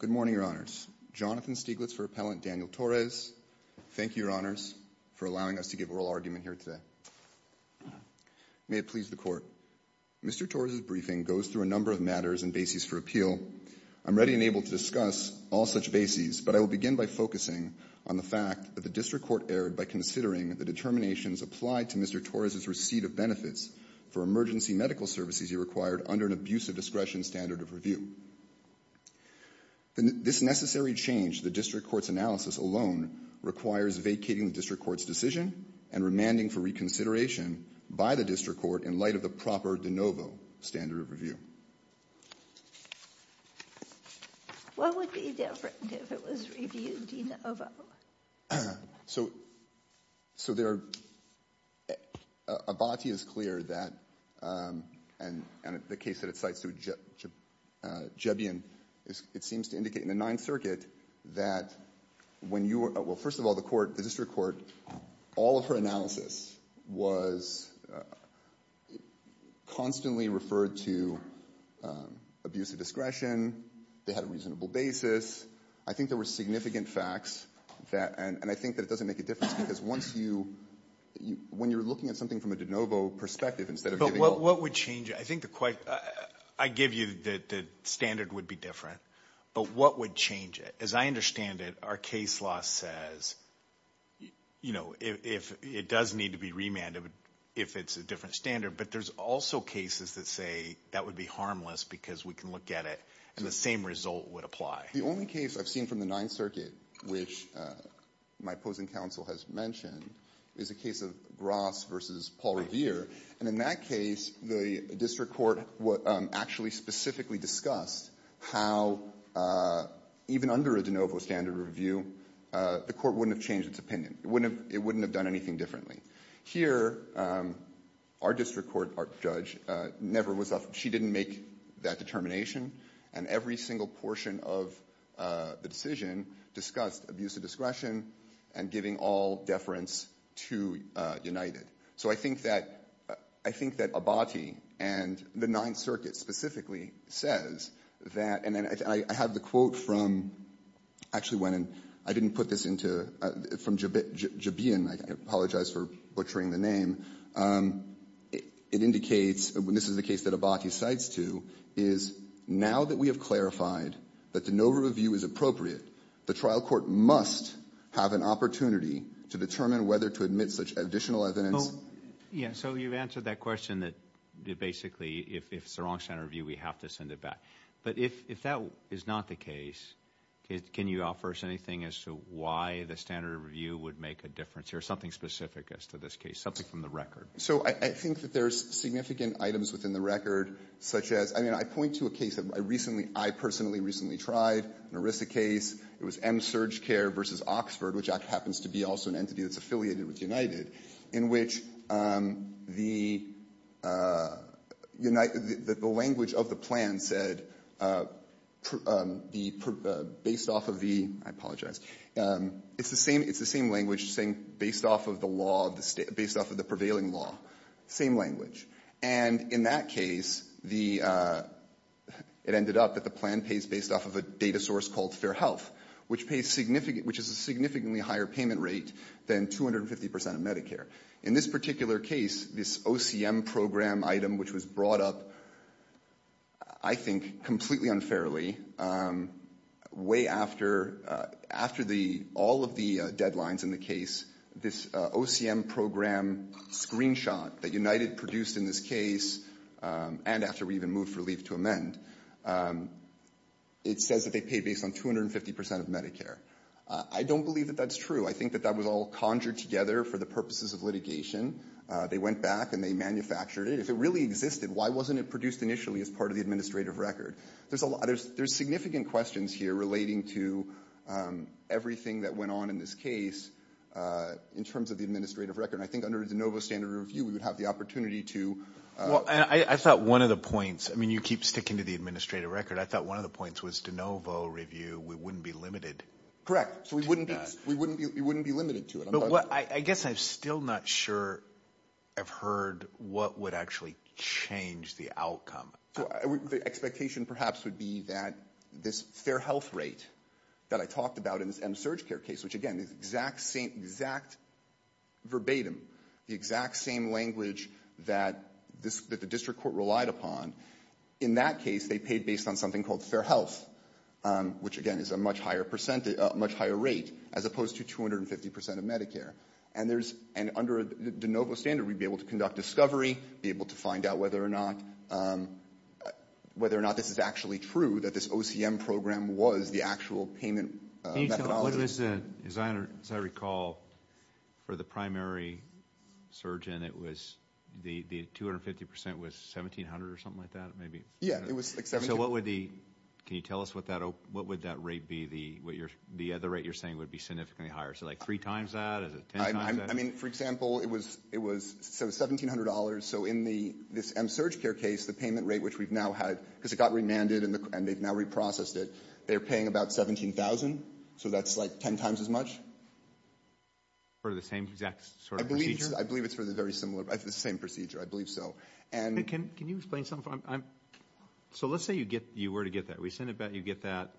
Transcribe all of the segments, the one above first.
Good morning, Your Honors. Jonathan Stieglitz for Appellant Daniel Torres. Thank you, Your Honors, for allowing us to give oral argument here today. May it please the Court. Mr. Torres' briefing goes through a number of matters and bases for appeal. I am ready and able to discuss all such bases, but I will begin by focusing on the fact that the District Court erred by considering the determinations applied to Mr. Torres' receipt of benefits for emergency medical services he required under an abuse of discretion standard of review. This necessary change to the District Court's analysis alone requires vacating the District Court's decision and remanding for reconsideration by the District Court in light of the proper de novo standard of review. What would be different if it was reviewed de novo? Abati is clear that, and the case that it cites through Jebian, it seems to indicate in the to abuse of discretion. They had a reasonable basis. I think there were significant facts, and I think that it doesn't make a difference because once you, when you're looking at something from a de novo perspective instead of giving... But what would change? I think the, I give you the standard would be different, but what would change it? As I understand it, our case law says, you know, it does need to be remanded if it's a different standard, but there's also cases that say that would be harmless because we can look at it and the same result would apply. The only case I've seen from the Ninth Circuit, which my opposing counsel has mentioned, is a case of Ross versus Paul Revere, and in that case, the District Court actually specifically discussed how even under a de novo standard of review, the court wouldn't have changed its opinion. It wouldn't have done anything differently. Here, our District Court judge never was, she didn't make that determination, and every single portion of the decision discussed abuse of discretion and giving all deference to United. So I think that, I think that Abati and the Ninth Circuit specifically says that, and then I have the quote from, actually went in, I didn't put this into, from Jabian, I apologize for butchering the name, it indicates, this is the case that Abati cites to, is now that we have clarified that de novo review is appropriate, the trial court must have an opportunity to determine whether to admit such additional evidence. Well, yeah, so you've answered that question that basically if it's the wrong standard of review, we have to send it back. But if that is not the case, can you offer us anything as to why the standard of review would make a difference, or something specific as to this case, something from the record? So I think that there's significant items within the record, such as, I mean, I point to a case that I recently, I personally recently tried, an ERISA case, it was M. Surge Care v. Oxford, which happens to be also an entity that's affiliated with United, in which the United, the language of the plan said, the, based off of the, I apologize, it's the same, it's the same language saying, based off of the law of the State, based off of the prevailing law, same language. And in that case, the, it ended up that the plan pays based off of a data source called Fair Health, which pays significant, which is a significantly higher payment rate than 250% of Medicare. In this particular case, this OCM program item, which was brought up, I think, completely unfairly, way after, after the, all of the deadlines in the case, this OCM program screenshot that United produced in this case, and after we even moved for leave to amend, it says that they pay based on 250% of Medicare. I don't believe that that's true. I think that that was all conjured together for the purposes of litigation. They went back and they manufactured it. If it really existed, why wasn't it produced initially as part of the administrative record? There's significant questions here relating to everything that went on in this case, in terms of the administrative record. And I think under the de novo standard review, we would have the opportunity to... Well, and I thought one of the points, I mean, you keep sticking to the administrative record. I thought one of the points was de novo review, we wouldn't be limited. Correct. So we wouldn't be, we wouldn't be, we wouldn't be limited to it. But what, I guess I'm still not sure I've heard what would actually change the outcome. So the expectation perhaps would be that this fair health rate that I talked about in this MSurgCare case, which again is exact same, exact verbatim, the exact same language that this, that the district court relied upon. In that case, they paid based on something called fair health, which again is a much higher percent, much higher rate, as opposed to 250% of Medicare. And there's, and under the de novo standard, we'd be able to conduct discovery, be able to find out whether or not, whether or not this is actually true, that this OCM program was the actual payment methodology. Can you tell us, as I recall, for the primary surgeon, it was, the 250% was 1,700 or something like that, maybe? Yeah, it was 1,700. So what would the, can you tell us what that, what would that rate be, the other rate you're saying would be significantly higher? So like three times that, is it ten times that? I mean, for example, it was, it was, so $1,700, so in the, this MSurgCare case, the payment rate which we've now had, because it got remanded and they've now reprocessed it, they're paying about $17,000, so that's like ten times as much. For the same exact sort of procedure? I believe it's for the very similar, the same procedure, I believe so. And Can you explain something? So let's say you get, you were to get that, we send it back, you get that,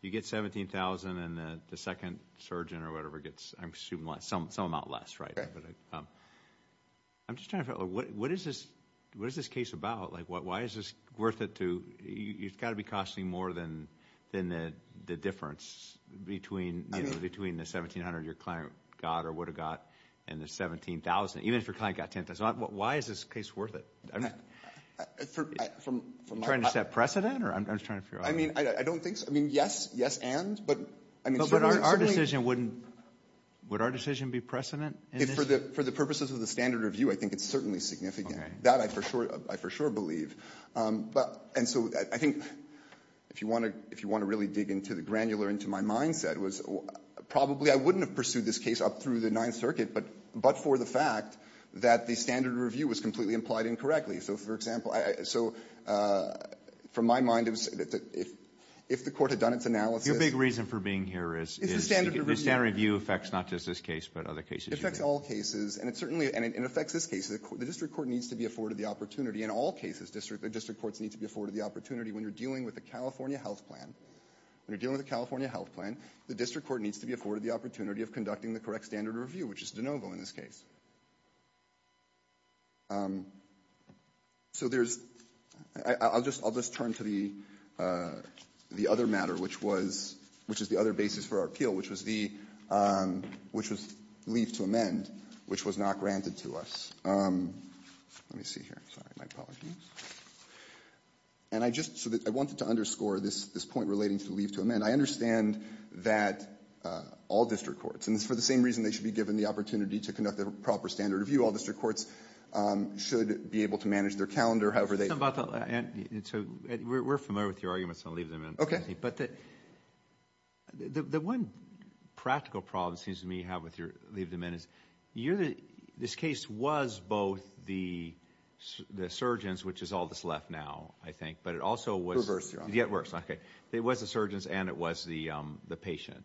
you get $17,000 and the second surgeon or whatever gets, I'm assuming, some amount less, right? I'm just trying to figure out, what is this, what is this case about? Like, why is this worth it to, it's got to be costing more than, than the difference between, you know, between the $1,700 your client got or would have got and the $17,000, even if your client got ten times, why is this case worth it? For, from, from my Trying to set precedent, or I'm just trying to figure out I mean, I don't think so, I mean, yes, yes and, but I mean Well, but our decision wouldn't, would our decision be precedent in this? For the, for the purposes of the standard review, I think it's certainly significant. That I for sure, I for sure believe. But, and so I think, if you want to, if you want to really dig into the granular, into my mindset, was probably I wouldn't have pursued this case up through the Ninth Circuit, but, but for the fact that the standard review was completely implied incorrectly. So, for example, I, so, from my mind, it was, if, if the Court had done its analysis Your big reason for being here is Is the standard review The standard review affects not just this case, but other cases It affects all cases, and it certainly, and it affects this case. The District Court needs to be afforded the opportunity, in all cases, District, the District Courts need to be afforded the opportunity when you're dealing with the California health plan. When you're dealing with the California health plan, the District Court needs to be afforded the opportunity of conducting the correct standard review, which is de novo in this case. So there's, I'll just, I'll just turn to the, the other matter, which was, which is the other basis for our appeal, which was the, which was leave to amend, which was not granted to us. Let me see here. Sorry, my apologies. And I just, I wanted to underscore this, this point relating to leave to amend. I understand that all District Courts, and for the same reason they should be given the opportunity to conduct the proper standard review, all District Courts should be able to manage their calendar, however they. So, we're familiar with your arguments on leave to amend. Okay. But the, the one practical problem it seems to me you have with your leave to amend is you, this case was both the, the surgeons, which is all that's left now, I think, but it also was. Reverse, Your Honor. Yet worse, okay. It was the surgeons and it was the, the patient,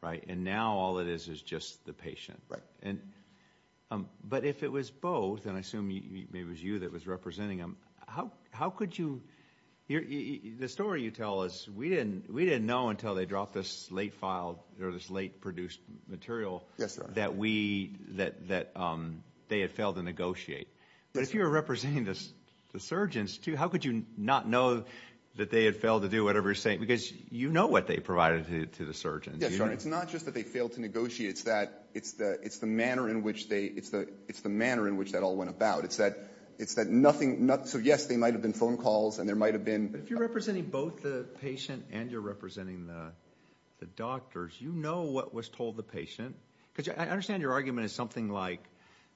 right? And now all it is is just the patient. And, but if it was both, and I assume maybe it was you that was representing them, how, how could you, the story you tell us, we didn't, we didn't know until they dropped this late file, or this late produced material. Yes, Your Honor. That we, that, that they had failed to negotiate. But if you were representing the surgeons too, how could you not know that they had failed to do whatever you're saying? Because you know what they provided to, to the surgeons. Yes, Your Honor. It's not just that they failed to negotiate. It's that, it's the, it's the manner in which they, it's the, it's the manner in which that all went about. It's that, it's that nothing, not, so yes, they might have been phone calls and there might have been. But if you're representing both the patient and you're representing the, the doctors, you know what was told the patient. Because I understand your argument is something like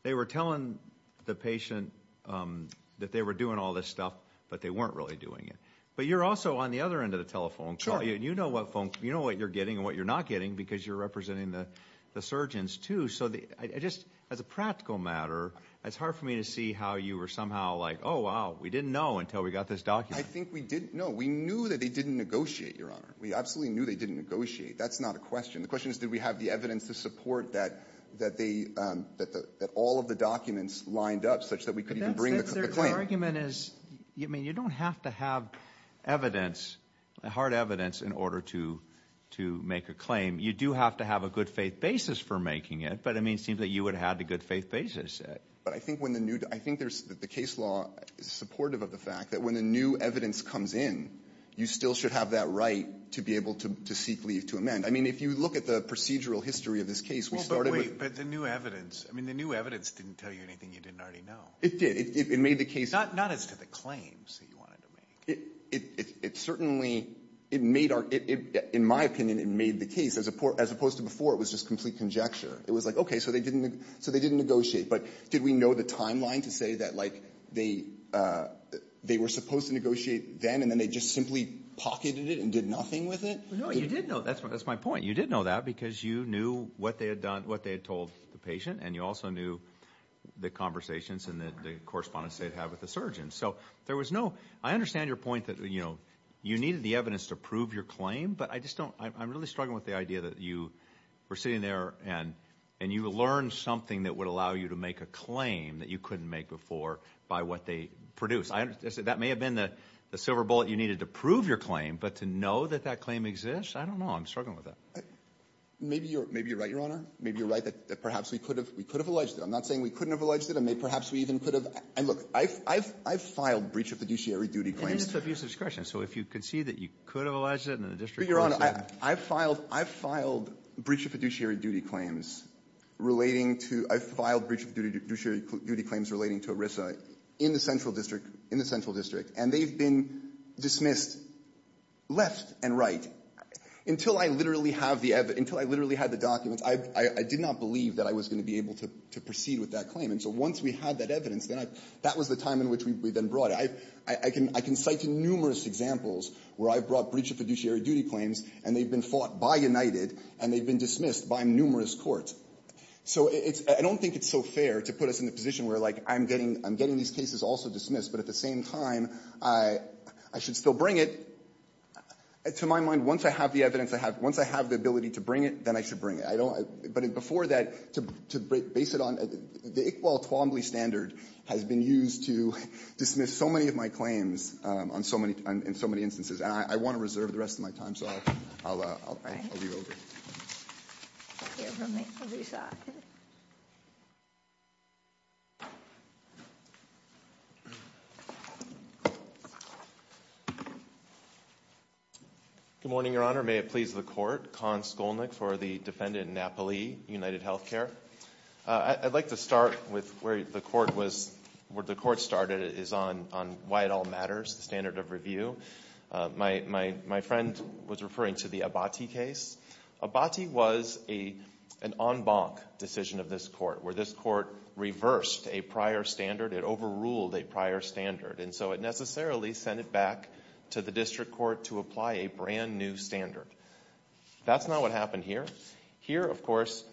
they were telling the patient that they were doing all this stuff, but they weren't really doing it. But you're also on the other end of the telephone call. Sure. You know what phone, you know what you're getting and what you're not getting because you're representing the, the surgeons too. So the, I just, as a practical matter, it's hard for me to see how you were somehow like, oh wow, we didn't know until we got this document. I think we didn't know. We knew that they didn't negotiate, Your Honor. We absolutely knew they didn't negotiate. That's not a question. The question is did we have the evidence to support that, that they, that the, that all of the documents lined up such that we could even bring the claim. My argument is, I mean, you don't have to have evidence, hard evidence in order to, to make a claim. You do have to have a good faith basis for making it. But, I mean, it seems that you would have had a good faith basis. But I think when the new, I think there's, the case law is supportive of the fact that when the new evidence comes in, you still should have that right to be able to, to seek leave to amend. I mean, if you look at the procedural history of this case, we started with. But the new evidence, I mean, the new evidence didn't tell you anything you didn't already know. It did. It, it made the case. Not, not as to the claims that you wanted to make. It, it, it certainly, it made our, it, it, in my opinion, it made the case as opposed to before, it was just complete conjecture. It was like, okay, so they didn't, so they didn't negotiate. But did we know the timeline to say that, like, they, they were supposed to negotiate then, and then they just simply pocketed it and did nothing with it? No, you did know. That's, that's my point. You did know that because you knew what they had done, what they had told the patient. And you also knew the conversations and the, the correspondence they'd had with the surgeon. So, there was no, I understand your point that, you know, you needed the evidence to prove your claim. But I just don't, I'm, I'm really struggling with the idea that you were sitting there and, and you learned something that would allow you to make a claim that you couldn't make before by what they produced. I understand, that may have been the, the silver bullet you needed to prove your claim. But to know that that claim exists, I don't know. I'm struggling with that. Maybe you're, maybe you're right, Your Honor. Maybe you're right that, that perhaps we could have, we could have alleged it. I'm not saying we couldn't have alleged it. I mean, perhaps we even could have. And look, I've, I've, I've filed breach of fiduciary duty claims. And it's an abuse of discretion. So if you concede that you could have alleged it and the district could have said it. But, Your Honor, I, I've filed, I've filed breach of fiduciary duty claims relating to, I've filed breach of fiduciary duty claims relating to ERISA in the central district, in the central district. And they've been dismissed left and right. Until I literally have the evidence, until I literally had the documents, I, I, I did not believe that I was going to be able to, to proceed with that claim. And so once we had that evidence, then I, that was the time in which we, we then brought it. I, I can, I can cite numerous examples where I've brought breach of fiduciary duty claims and they've been fought by United and they've been dismissed by numerous courts. So it's, I don't think it's so fair to put us in the position where, like, I'm getting, I'm getting these cases also dismissed, but at the same time, I, I should still bring it. To my mind, once I have the evidence I have, once I have the ability to bring it, then I should bring it. I don't, but before that, to, to base it on, the Iqbal Twombly standard has been used to dismiss so many of my claims on so many, on so many instances. And I, I want to reserve the rest of my time, so I'll, I'll, I'll, I'll leave it over. Here from the other side. Good morning, Your Honor. May it please the Court. Kahn Skolnick for the defendant Napoli, UnitedHealthcare. I'd like to start with where the court was, where the court started is on, on why it all matters, the standard of review. My, my, my friend was referring to the Abati case. Abati was a, an en banc decision of this court, where this court reversed a prior standard, it overruled a prior standard, and so it necessarily sent it back to the district court to apply a brand new standard. That's not what happened here. Here, of course,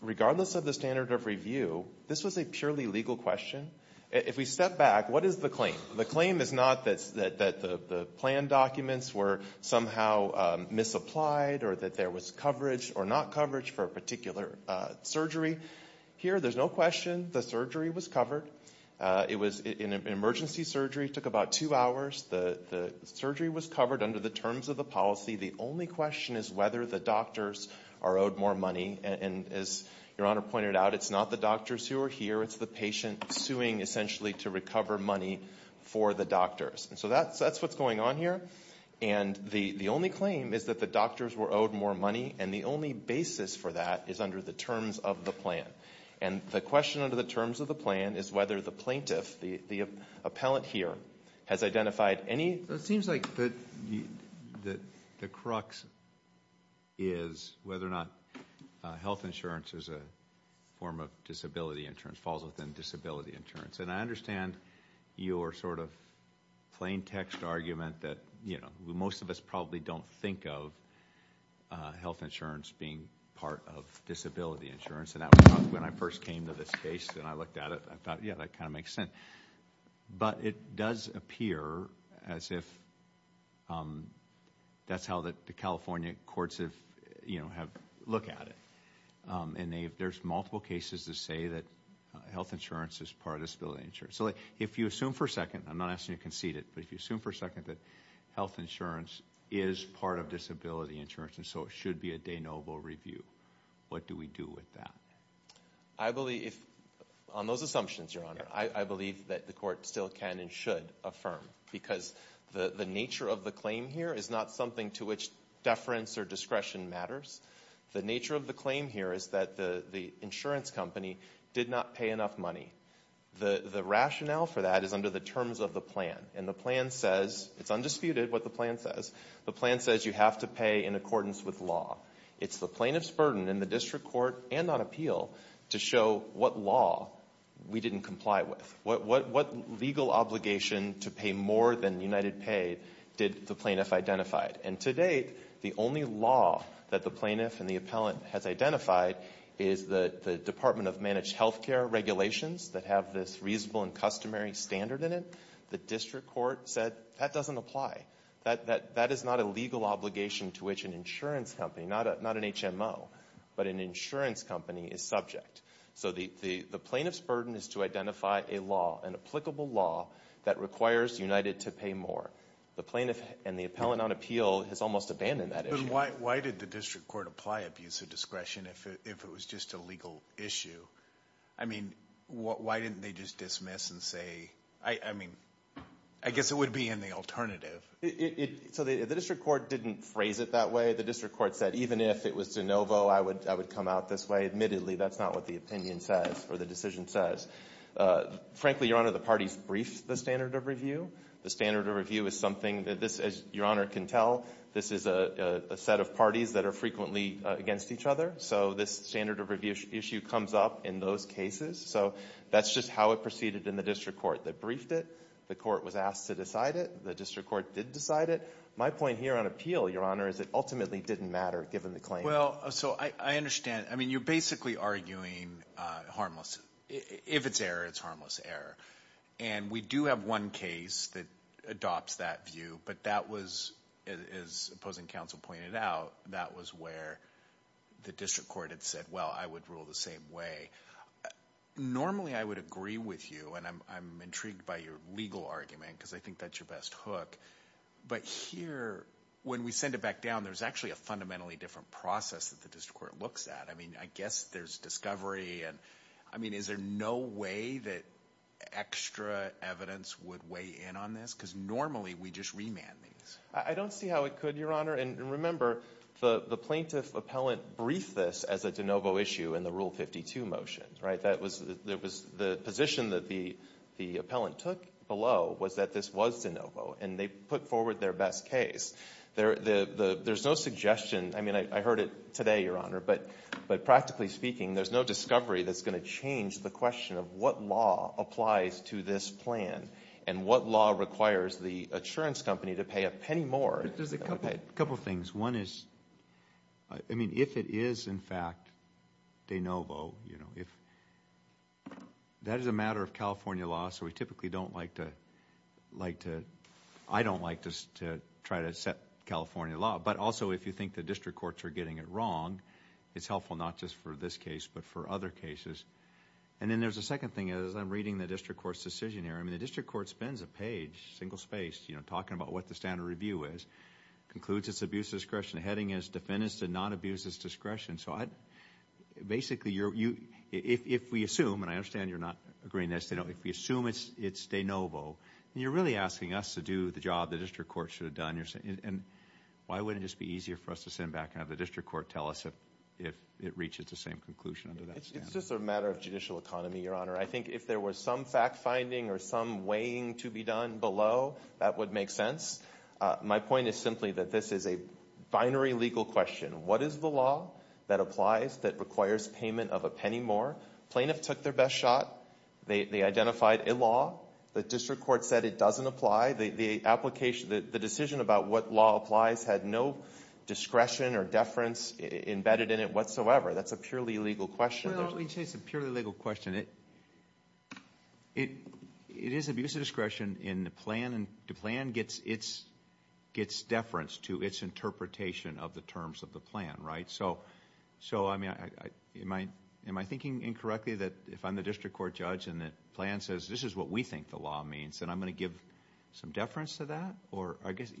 regardless of the standard of review, this was a purely legal question. If we step back, what is the claim? The claim is not that, that the, the planned documents were somehow misapplied or that there was coverage or not coverage for a particular surgery. Here, there's no question the surgery was covered. It was an emergency surgery, took about two hours. The, the surgery was covered under the terms of the policy. The only question is whether the doctors are owed more money. And, and as Your Honor pointed out, it's not the doctors who are here, it's the patient suing essentially to recover money for the doctors. And so that's, that's what's going on here. And the, the only claim is that the doctors were owed more money, and the only basis for that is under the terms of the plan. And the question under the terms of the plan is whether the plaintiff, the, the appellant here, has identified any. It seems like the, the, the crux is whether or not health insurance is a form of disability insurance, falls within disability insurance. And I understand your sort of plain text argument that, you know, most of us probably don't think of health insurance being part of disability insurance. And that was when I first came to this case and I looked at it. I thought, yeah, that kind of makes sense. But it does appear as if that's how the California courts have, you know, have looked at it. And they, there's multiple cases that say that health insurance is part of disability insurance. So if you assume for a second, I'm not asking you to concede it, but if you assume for a second that health insurance is part of disability insurance and so it should be a de novo review, what do we do with that? I believe if, on those assumptions, Your Honor, I, I believe that the court still can and should affirm. Because the, the nature of the claim here is not something to which deference or discretion matters. The nature of the claim here is that the, the insurance company did not pay enough money. The, the rationale for that is under the terms of the plan. And the plan says, it's undisputed what the plan says, the plan says you have to pay in accordance with law. It's the plaintiff's burden in the district court and on appeal to show what law we didn't comply with. What, what, what legal obligation to pay more than UnitedPay did the plaintiff identify. And to date, the only law that the plaintiff and the appellant has identified is the, the Department of Managed Healthcare regulations that have this reasonable and customary standard in it. The district court said, that doesn't apply. That, that, that is not a legal obligation to which an insurance company, not a, not an HMO, but an insurance company is subject. So the, the, the plaintiff's burden is to identify a law, an applicable law that requires United to pay more. The plaintiff and the appellant on appeal has almost abandoned that issue. But why, why did the district court apply abuse of discretion if it, if it was just a legal issue? I mean, why, why didn't they just dismiss and say, I, I mean, I guess it would be in the alternative. It, it, it, so the, the district court didn't phrase it that way. The district court said, even if it was de novo, I would, I would come out this way. Admittedly, that's not what the opinion says or the decision says. Frankly, Your Honor, the parties briefed the standard of review. The standard of review is something that this, as Your Honor can tell, this is a, a, a set of parties that are frequently against each other. So this standard of review issue comes up in those cases. So that's just how it proceeded in the district court. They briefed it. The court was asked to decide it. The district court did decide it. My point here on appeal, Your Honor, is it ultimately didn't matter given the claim. Well, so I, I understand. I mean, you're basically arguing harmless. If it's error, it's harmless error. And we do have one case that adopts that view. But that was, as opposing counsel pointed out, that was where the district court had said, well, I would rule the same way. Normally, I would agree with you, and I'm, I'm intrigued by your legal argument because I think that's your best hook. But here, when we send it back down, there's actually a fundamentally different process that the district court looks at. I mean, I guess there's discovery and, I mean, is there no way that, that extra evidence would weigh in on this? Because normally, we just remand these. I don't see how it could, Your Honor. And remember, the, the plaintiff appellant briefed this as a de novo issue in the Rule 52 motion, right? That was, that was the position that the, the appellant took below was that this was de novo. And they put forward their best case. There, the, the, there's no suggestion. I mean, I, I heard it today, Your Honor. But, but practically speaking, there's no discovery that's going to change the question of what law applies to this plan and what law requires the insurance company to pay a penny more. There's a couple of things. One is, I mean, if it is, in fact, de novo, you know, if, that is a matter of California law, so we typically don't like to, like to, I don't like to, to try to set California law. But also, if you think the district courts are getting it wrong, it's And then there's a second thing. As I'm reading the district court's decision here, I mean, the district court spends a page, single-spaced, you know, talking about what the standard review is. Concludes it's abuse discretion. The heading is, defendants did not abuse this discretion. So I, basically, you're, you, if, if we assume, and I understand you're not agreeing that it's de novo, if we assume it's, it's de novo, you're really asking us to do the job the district court should have done. And, and why wouldn't it just be easier for us to send back and have the district court tell us if, if it reaches the same conclusion under that standard? It's just a matter of judicial economy, Your Honor. I think if there were some fact-finding or some weighing to be done below, that would make sense. My point is simply that this is a binary legal question. What is the law that applies that requires payment of a penny more? Plaintiffs took their best shot. They, they identified a law. The district court said it doesn't apply. The, the application, the, the decision about what law applies had no discretion or deference embedded in it whatsoever. That's a purely legal question. Well, let me say it's a purely legal question. It, it, it is abuse of discretion in the plan and the plan gets its, gets deference to its interpretation of the terms of the plan, right? So, so, I mean, I, I, am I, am I thinking incorrectly that if I'm the district court judge and the plan says this is what we think the law means, then I'm going to give some deference to that? Or, I guess.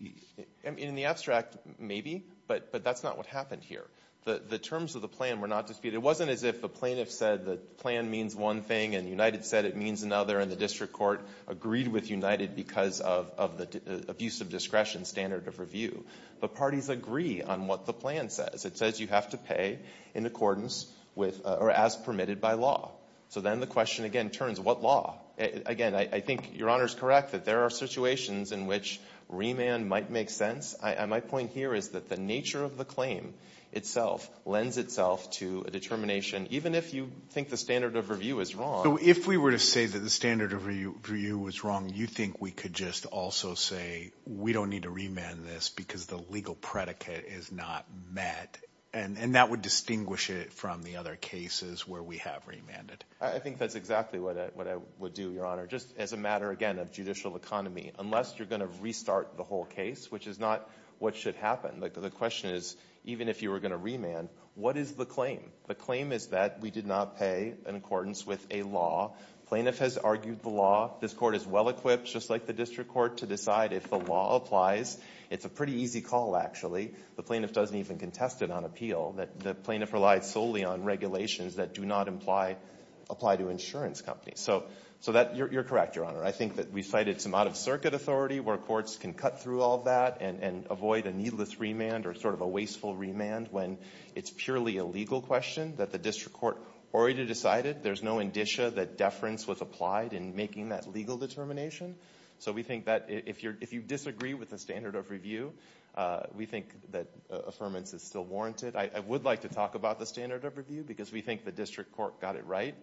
In the abstract, maybe, but, but that's not what happened here. The, the terms of the plan were not disputed. It wasn't as if the plaintiff said the plan means one thing and United said it means another and the district court agreed with United because of, of the abuse of discretion standard of review. The parties agree on what the plan says. It says you have to pay in accordance with, or as permitted by law. So then the question again turns, what law? Again, I, I think Your Honor's correct that there are situations in which remand might make sense. I, my point here is that the nature of the claim itself lends itself to a determination, even if you think the standard of review is wrong. So if we were to say that the standard of review was wrong, you think we could just also say we don't need to remand this because the legal predicate is not met? And, and that would distinguish it from the other cases where we have remanded? I, I think that's exactly what I, what I would do, Your Honor. Just as a matter, again, of judicial economy. Unless you're going to restart the whole case, which is not what should happen. The, the question is, even if you were going to remand, what is the claim? The claim is that we did not pay in accordance with a law. Plaintiff has argued the law. This court is well equipped, just like the district court, to decide if the law applies. It's a pretty easy call, actually. The plaintiff doesn't even contest it on appeal. The, the plaintiff relied solely on regulations that do not imply, apply to insurance companies. So, so that, you're, you're correct, Your Honor. I think that we've cited some out-of-circuit authority where courts can cut through all that and, and avoid a needless remand or sort of a wasteful remand when it's purely a legal question that the district court already decided. There's no indicia that deference was applied in making that legal determination. So we think that if you're, if you disagree with the standard of review, we think that affirmance is still warranted. I, I would like to talk about the standard of review because we think the district court got it right.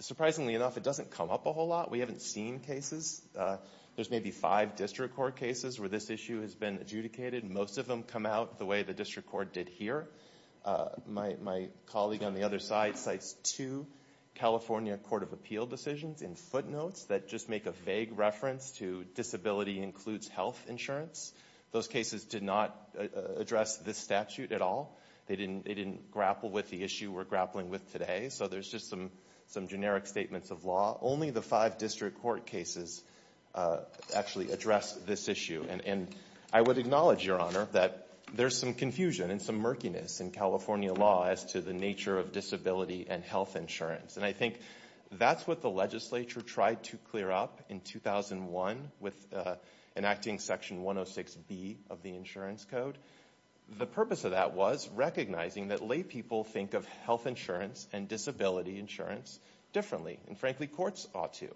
Surprisingly enough, it doesn't come up a whole lot. We haven't seen cases. There's maybe five district court cases where this issue has been adjudicated. Most of them come out the way the district court did here. My, my colleague on the other side cites two California court of appeal decisions in footnotes that just make a vague reference to disability includes health insurance. Those cases did not address this statute at all. They didn't, they didn't grapple with the issue we're grappling with today. So there's just some, some generic statements of law. Only the five district court cases actually address this issue. And, and I would acknowledge your honor that there's some confusion and some murkiness in California law as to the nature of disability and health insurance. And I think that's what the legislature tried to clear up in 2001 with enacting section 106B of the insurance code. The purpose of that was recognizing that lay people think of health insurance and disability insurance differently. And frankly, courts ought to.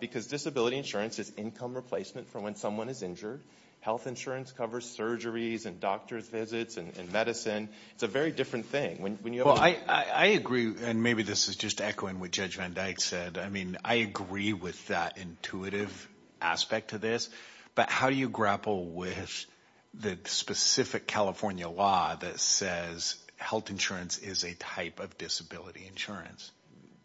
Because disability insurance is income replacement for when someone is injured. Health insurance covers surgeries and doctor's visits and medicine. It's a very different thing. Well, I, I agree. And maybe this is just echoing what Judge Van Dyke said. I mean, I agree with that intuitive aspect to this, but how do you grapple with the specific California law that says health insurance is a type of disability insurance?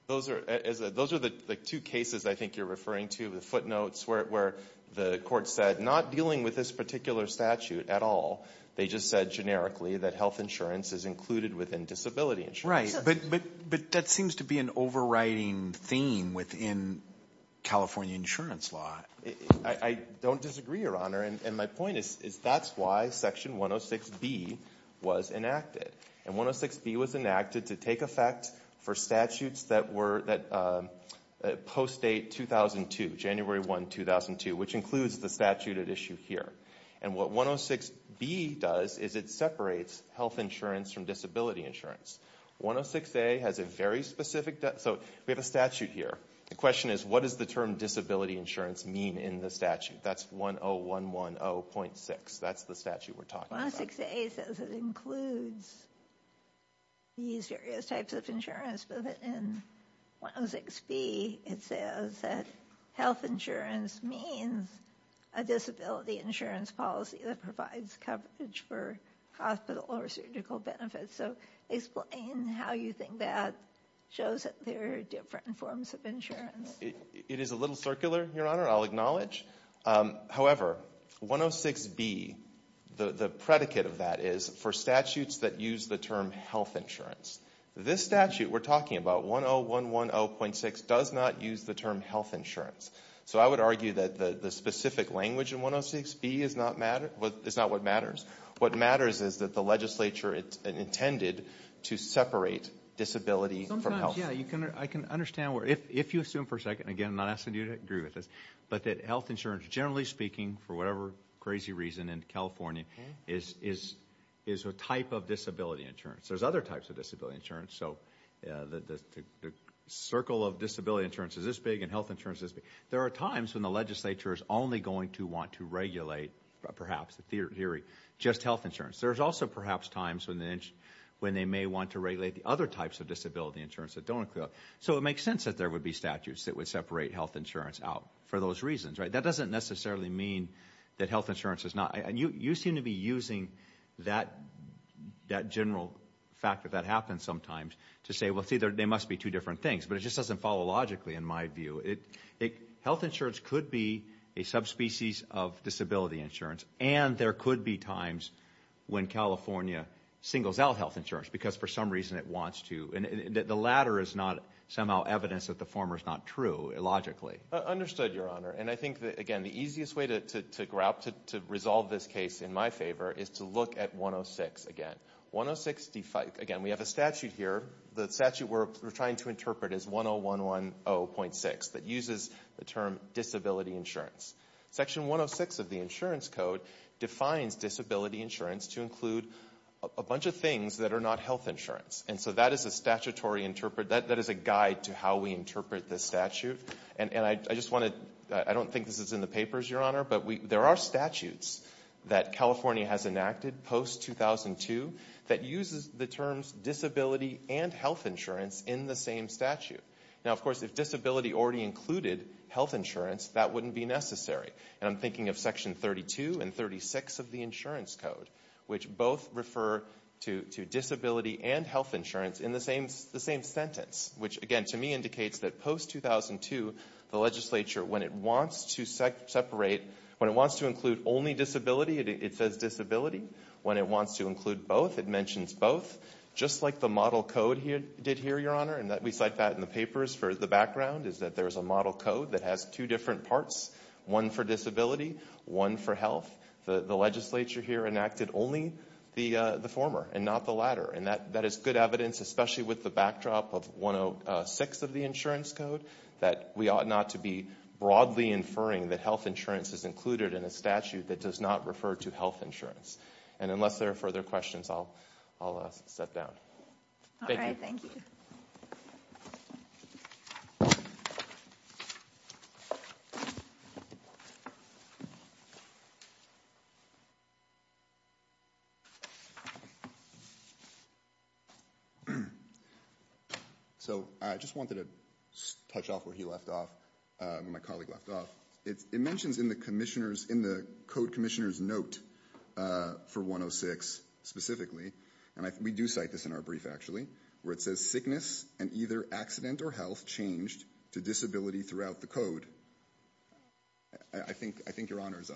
Those are, those are the two cases I think you're referring to, the footnotes where the court said not dealing with this particular statute at all. They just said generically that health insurance is included within disability insurance. Right. But, but, but that seems to be an overriding theme within California insurance law. I don't disagree, your honor. And my point is, is that's why section 106B was enacted. And 106B was enacted to take effect for statutes that were, that post-date 2002, January 1, 2002, which includes the statute at issue here. And what 106B does is it separates health insurance from disability insurance. 106A has a very specific, so we have a statute here. The question is what does the term disability insurance mean in the statute? That's 10110.6. That's the statute we're talking about. 106A says it includes these various types of insurance, but in 106B it says that health insurance means a disability insurance policy that provides coverage for hospital or surgical benefits. So explain how you think that shows that there are different forms of It is a little circular, your honor, I'll acknowledge. However, 106B, the predicate of that is for statutes that use the term health insurance. This statute we're talking about, 10110.6, does not use the term health insurance. So I would argue that the specific language in 106B is not what matters. What matters is that the legislature intended to separate disability from health. Sometimes, yeah, I can understand where, if you assume for a second, again, I'm not asking you to agree with this, but that health insurance, generally speaking, for whatever crazy reason in California, is a type of disability insurance. There's other types of disability insurance. So the circle of disability insurance is this big and health insurance is this big. There are times when the legislature is only going to want to regulate, perhaps in theory, just health insurance. There's also perhaps times when they may want to regulate the other types of disability insurance that don't include health. So it makes sense that there would be statutes that would separate health insurance out for those reasons. That doesn't necessarily mean that health insurance is not. You seem to be using that general factor that happens sometimes to say, well, see, there must be two different things. But it just doesn't follow logically in my view. Health insurance could be a subspecies of disability insurance, and there could be times when California singles out health insurance because for some reason it wants to. The latter is not somehow evidence that the former is not true logically. Understood, Your Honor. And I think, again, the easiest way to resolve this case in my favor is to look at 106 again. Again, we have a statute here. The statute we're trying to interpret is 10110.6 that uses the term disability insurance. Section 106 of the insurance code defines disability insurance to include a bunch of things that are not health insurance. And so that is a guide to how we interpret this statute. And I don't think this is in the papers, Your Honor, but there are statutes that California has enacted post-2002 that uses the terms disability and health insurance in the same statute. Now, of course, if disability already included health insurance, that wouldn't be necessary. And I'm thinking of Section 32 and 36 of the insurance code, which both refer to disability and health insurance in the same sentence, which, again, to me indicates that post-2002, the legislature, when it wants to separate, when it wants to include only disability, it says disability. When it wants to include both, it mentions both. Just like the model code did here, Your Honor, and we cite that in the papers for the background, is that there is a model code that has two different parts, one for disability, one for health. The legislature here enacted only the former and not the latter, and that is good evidence, especially with the backdrop of 106 of the insurance code, that we ought not to be broadly inferring that health insurance is included in a statute that does not refer to health insurance. And unless there are further questions, I'll step down. Thank you. All right, thank you. So I just wanted to touch off where he left off, where my colleague left off. It mentions in the code commissioner's note for 106 specifically, and we do cite this in our brief actually, where it says, sickness and either accident or health changed to disability throughout the code. I think, Your Honors,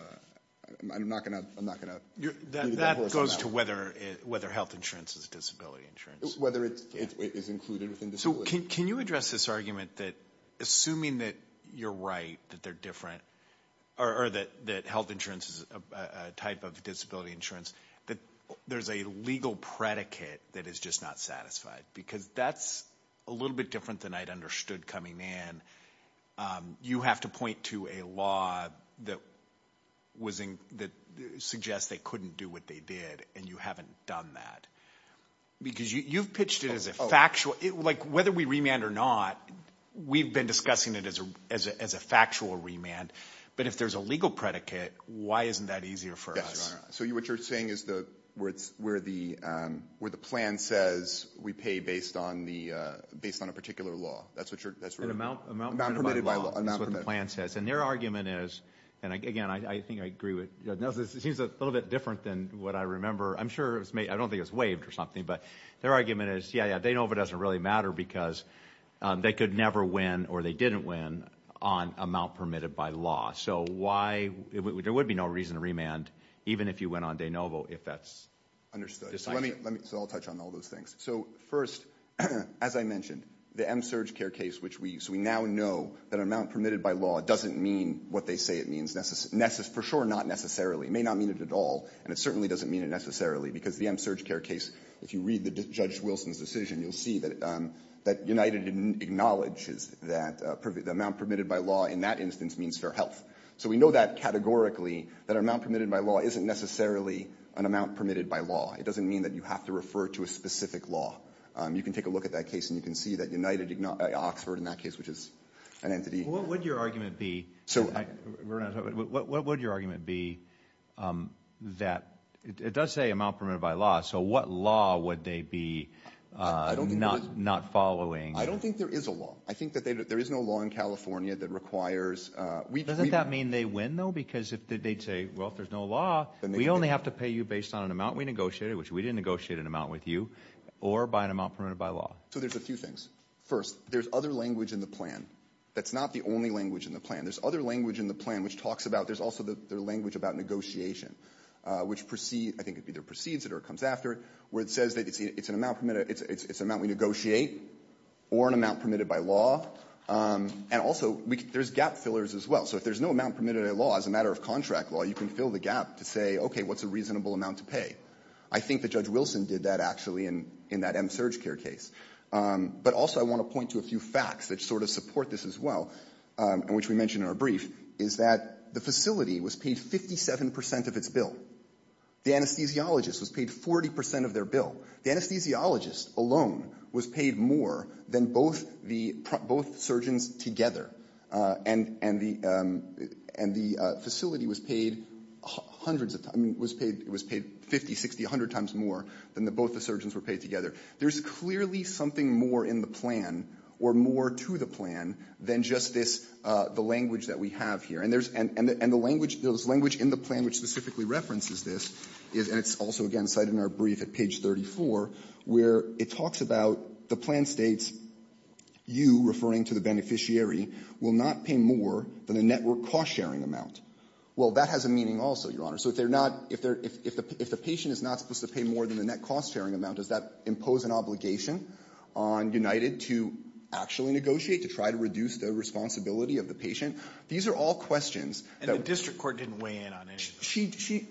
I'm not going to leave the horse on that one. That goes to whether health insurance is disability insurance. Whether it is included within disability. So can you address this argument that assuming that you're right, that they're different, or that health insurance is a type of disability insurance, that there's a legal predicate that is just not satisfied? Because that's a little bit different than I'd understood coming in. You have to point to a law that suggests they couldn't do what they did, and you haven't done that. Because you've pitched it as a factual. Whether we remand or not, we've been discussing it as a factual remand. But if there's a legal predicate, why isn't that easier for us? Yes, Your Honor. So what you're saying is where the plan says we pay based on a particular law. Amount permitted by law. That's what the plan says. And their argument is, and, again, I think I agree with Nelson. It seems a little bit different than what I remember. I'm sure it's made up. I don't think it's waived or something. But their argument is, yeah, yeah, De Novo doesn't really matter because they could never win or they didn't win on amount permitted by law. So why? There would be no reason to remand even if you went on De Novo if that's decided. So I'll touch on all those things. So, first, as I mentioned, the M-surge care case, which we now know that amount permitted by law doesn't mean what they say it means. For sure not necessarily. It may not mean it at all, and it certainly doesn't mean it necessarily because the M-surge care case, if you read Judge Wilson's decision, you'll see that United acknowledges that the amount permitted by law in that instance means fair health. So we know that categorically, that amount permitted by law isn't necessarily an amount permitted by law. It doesn't mean that you have to refer to a specific law. You can take a look at that case, and you can see that Oxford in that case, which is an entity. What would your argument be that it does say amount permitted by law, so what law would they be not following? I don't think there is a law. I think that there is no law in California that requires – Doesn't that mean they win, though? Because they'd say, well, if there's no law, we only have to pay you based on an amount we negotiated, which we didn't negotiate an amount with you, or by an amount permitted by law. So there's a few things. First, there's other language in the plan. That's not the only language in the plan. There's other language in the plan which talks about – there's also the language about negotiation, which precedes – I think it either precedes it or it comes after it, where it says that it's an amount permitted – it's an amount we negotiate or an amount permitted by law. And also there's gap fillers as well. So if there's no amount permitted by law as a matter of contract law, you can fill the gap to say, okay, what's a reasonable amount to pay? I think that Judge Wilson did that, actually, in that MSurgeCare case. But also I want to point to a few facts that sort of support this as well, and which we mentioned in our brief, is that the facility was paid 57 percent of its bill. The anesthesiologist was paid 40 percent of their bill. The anesthesiologist alone was paid more than both the – and the facility was paid hundreds of – I mean, it was paid 50, 60, 100 times more than both the surgeons were paid together. There's clearly something more in the plan or more to the plan than just this – the language that we have here. And there's – and the language – there's language in the plan which specifically references this, and it's also, again, cited in our brief at page 34, where it talks about the plan states, you, referring to the beneficiary, will not pay more than the network cost-sharing amount. Well, that has a meaning also, Your Honor. So if they're not – if the patient is not supposed to pay more than the net cost-sharing amount, does that impose an obligation on United to actually negotiate, to try to reduce the responsibility of the patient? These are all questions that – And the district court didn't weigh in on any of those.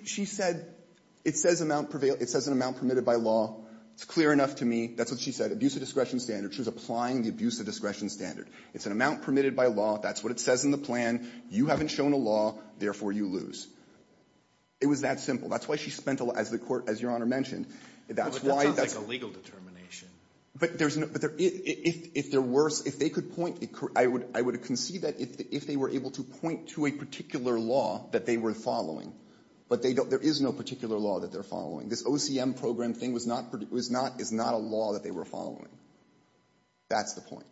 She said – it says amount – it says an amount permitted by law. It's clear enough to me. That's what she said. Abuse of discretion standard. She was applying the abuse of discretion standard. It's an amount permitted by law. That's what it says in the plan. You haven't shown a law. Therefore, you lose. It was that simple. That's why she spent – as the court – as Your Honor mentioned, that's why – But that's not like a legal determination. But there's – if there were – if they could point – I would concede that if they were able to point to a particular law that they were following. But they don't – there is no particular law that they're following. This OCM program thing was not – is not a law that they were following. That's the point.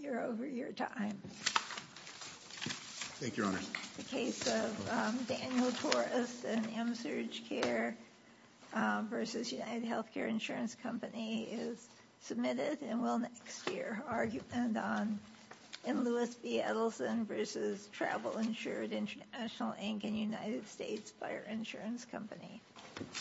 You're over your time. Thank you, Your Honor. The case of Daniel Torres and Amsurge Care versus UnitedHealthcare Insurance Company is submitted and will next year. Argument on M. Lewis B. Edelson versus Travel Insurance International Inc. and United States Fire Insurance Company.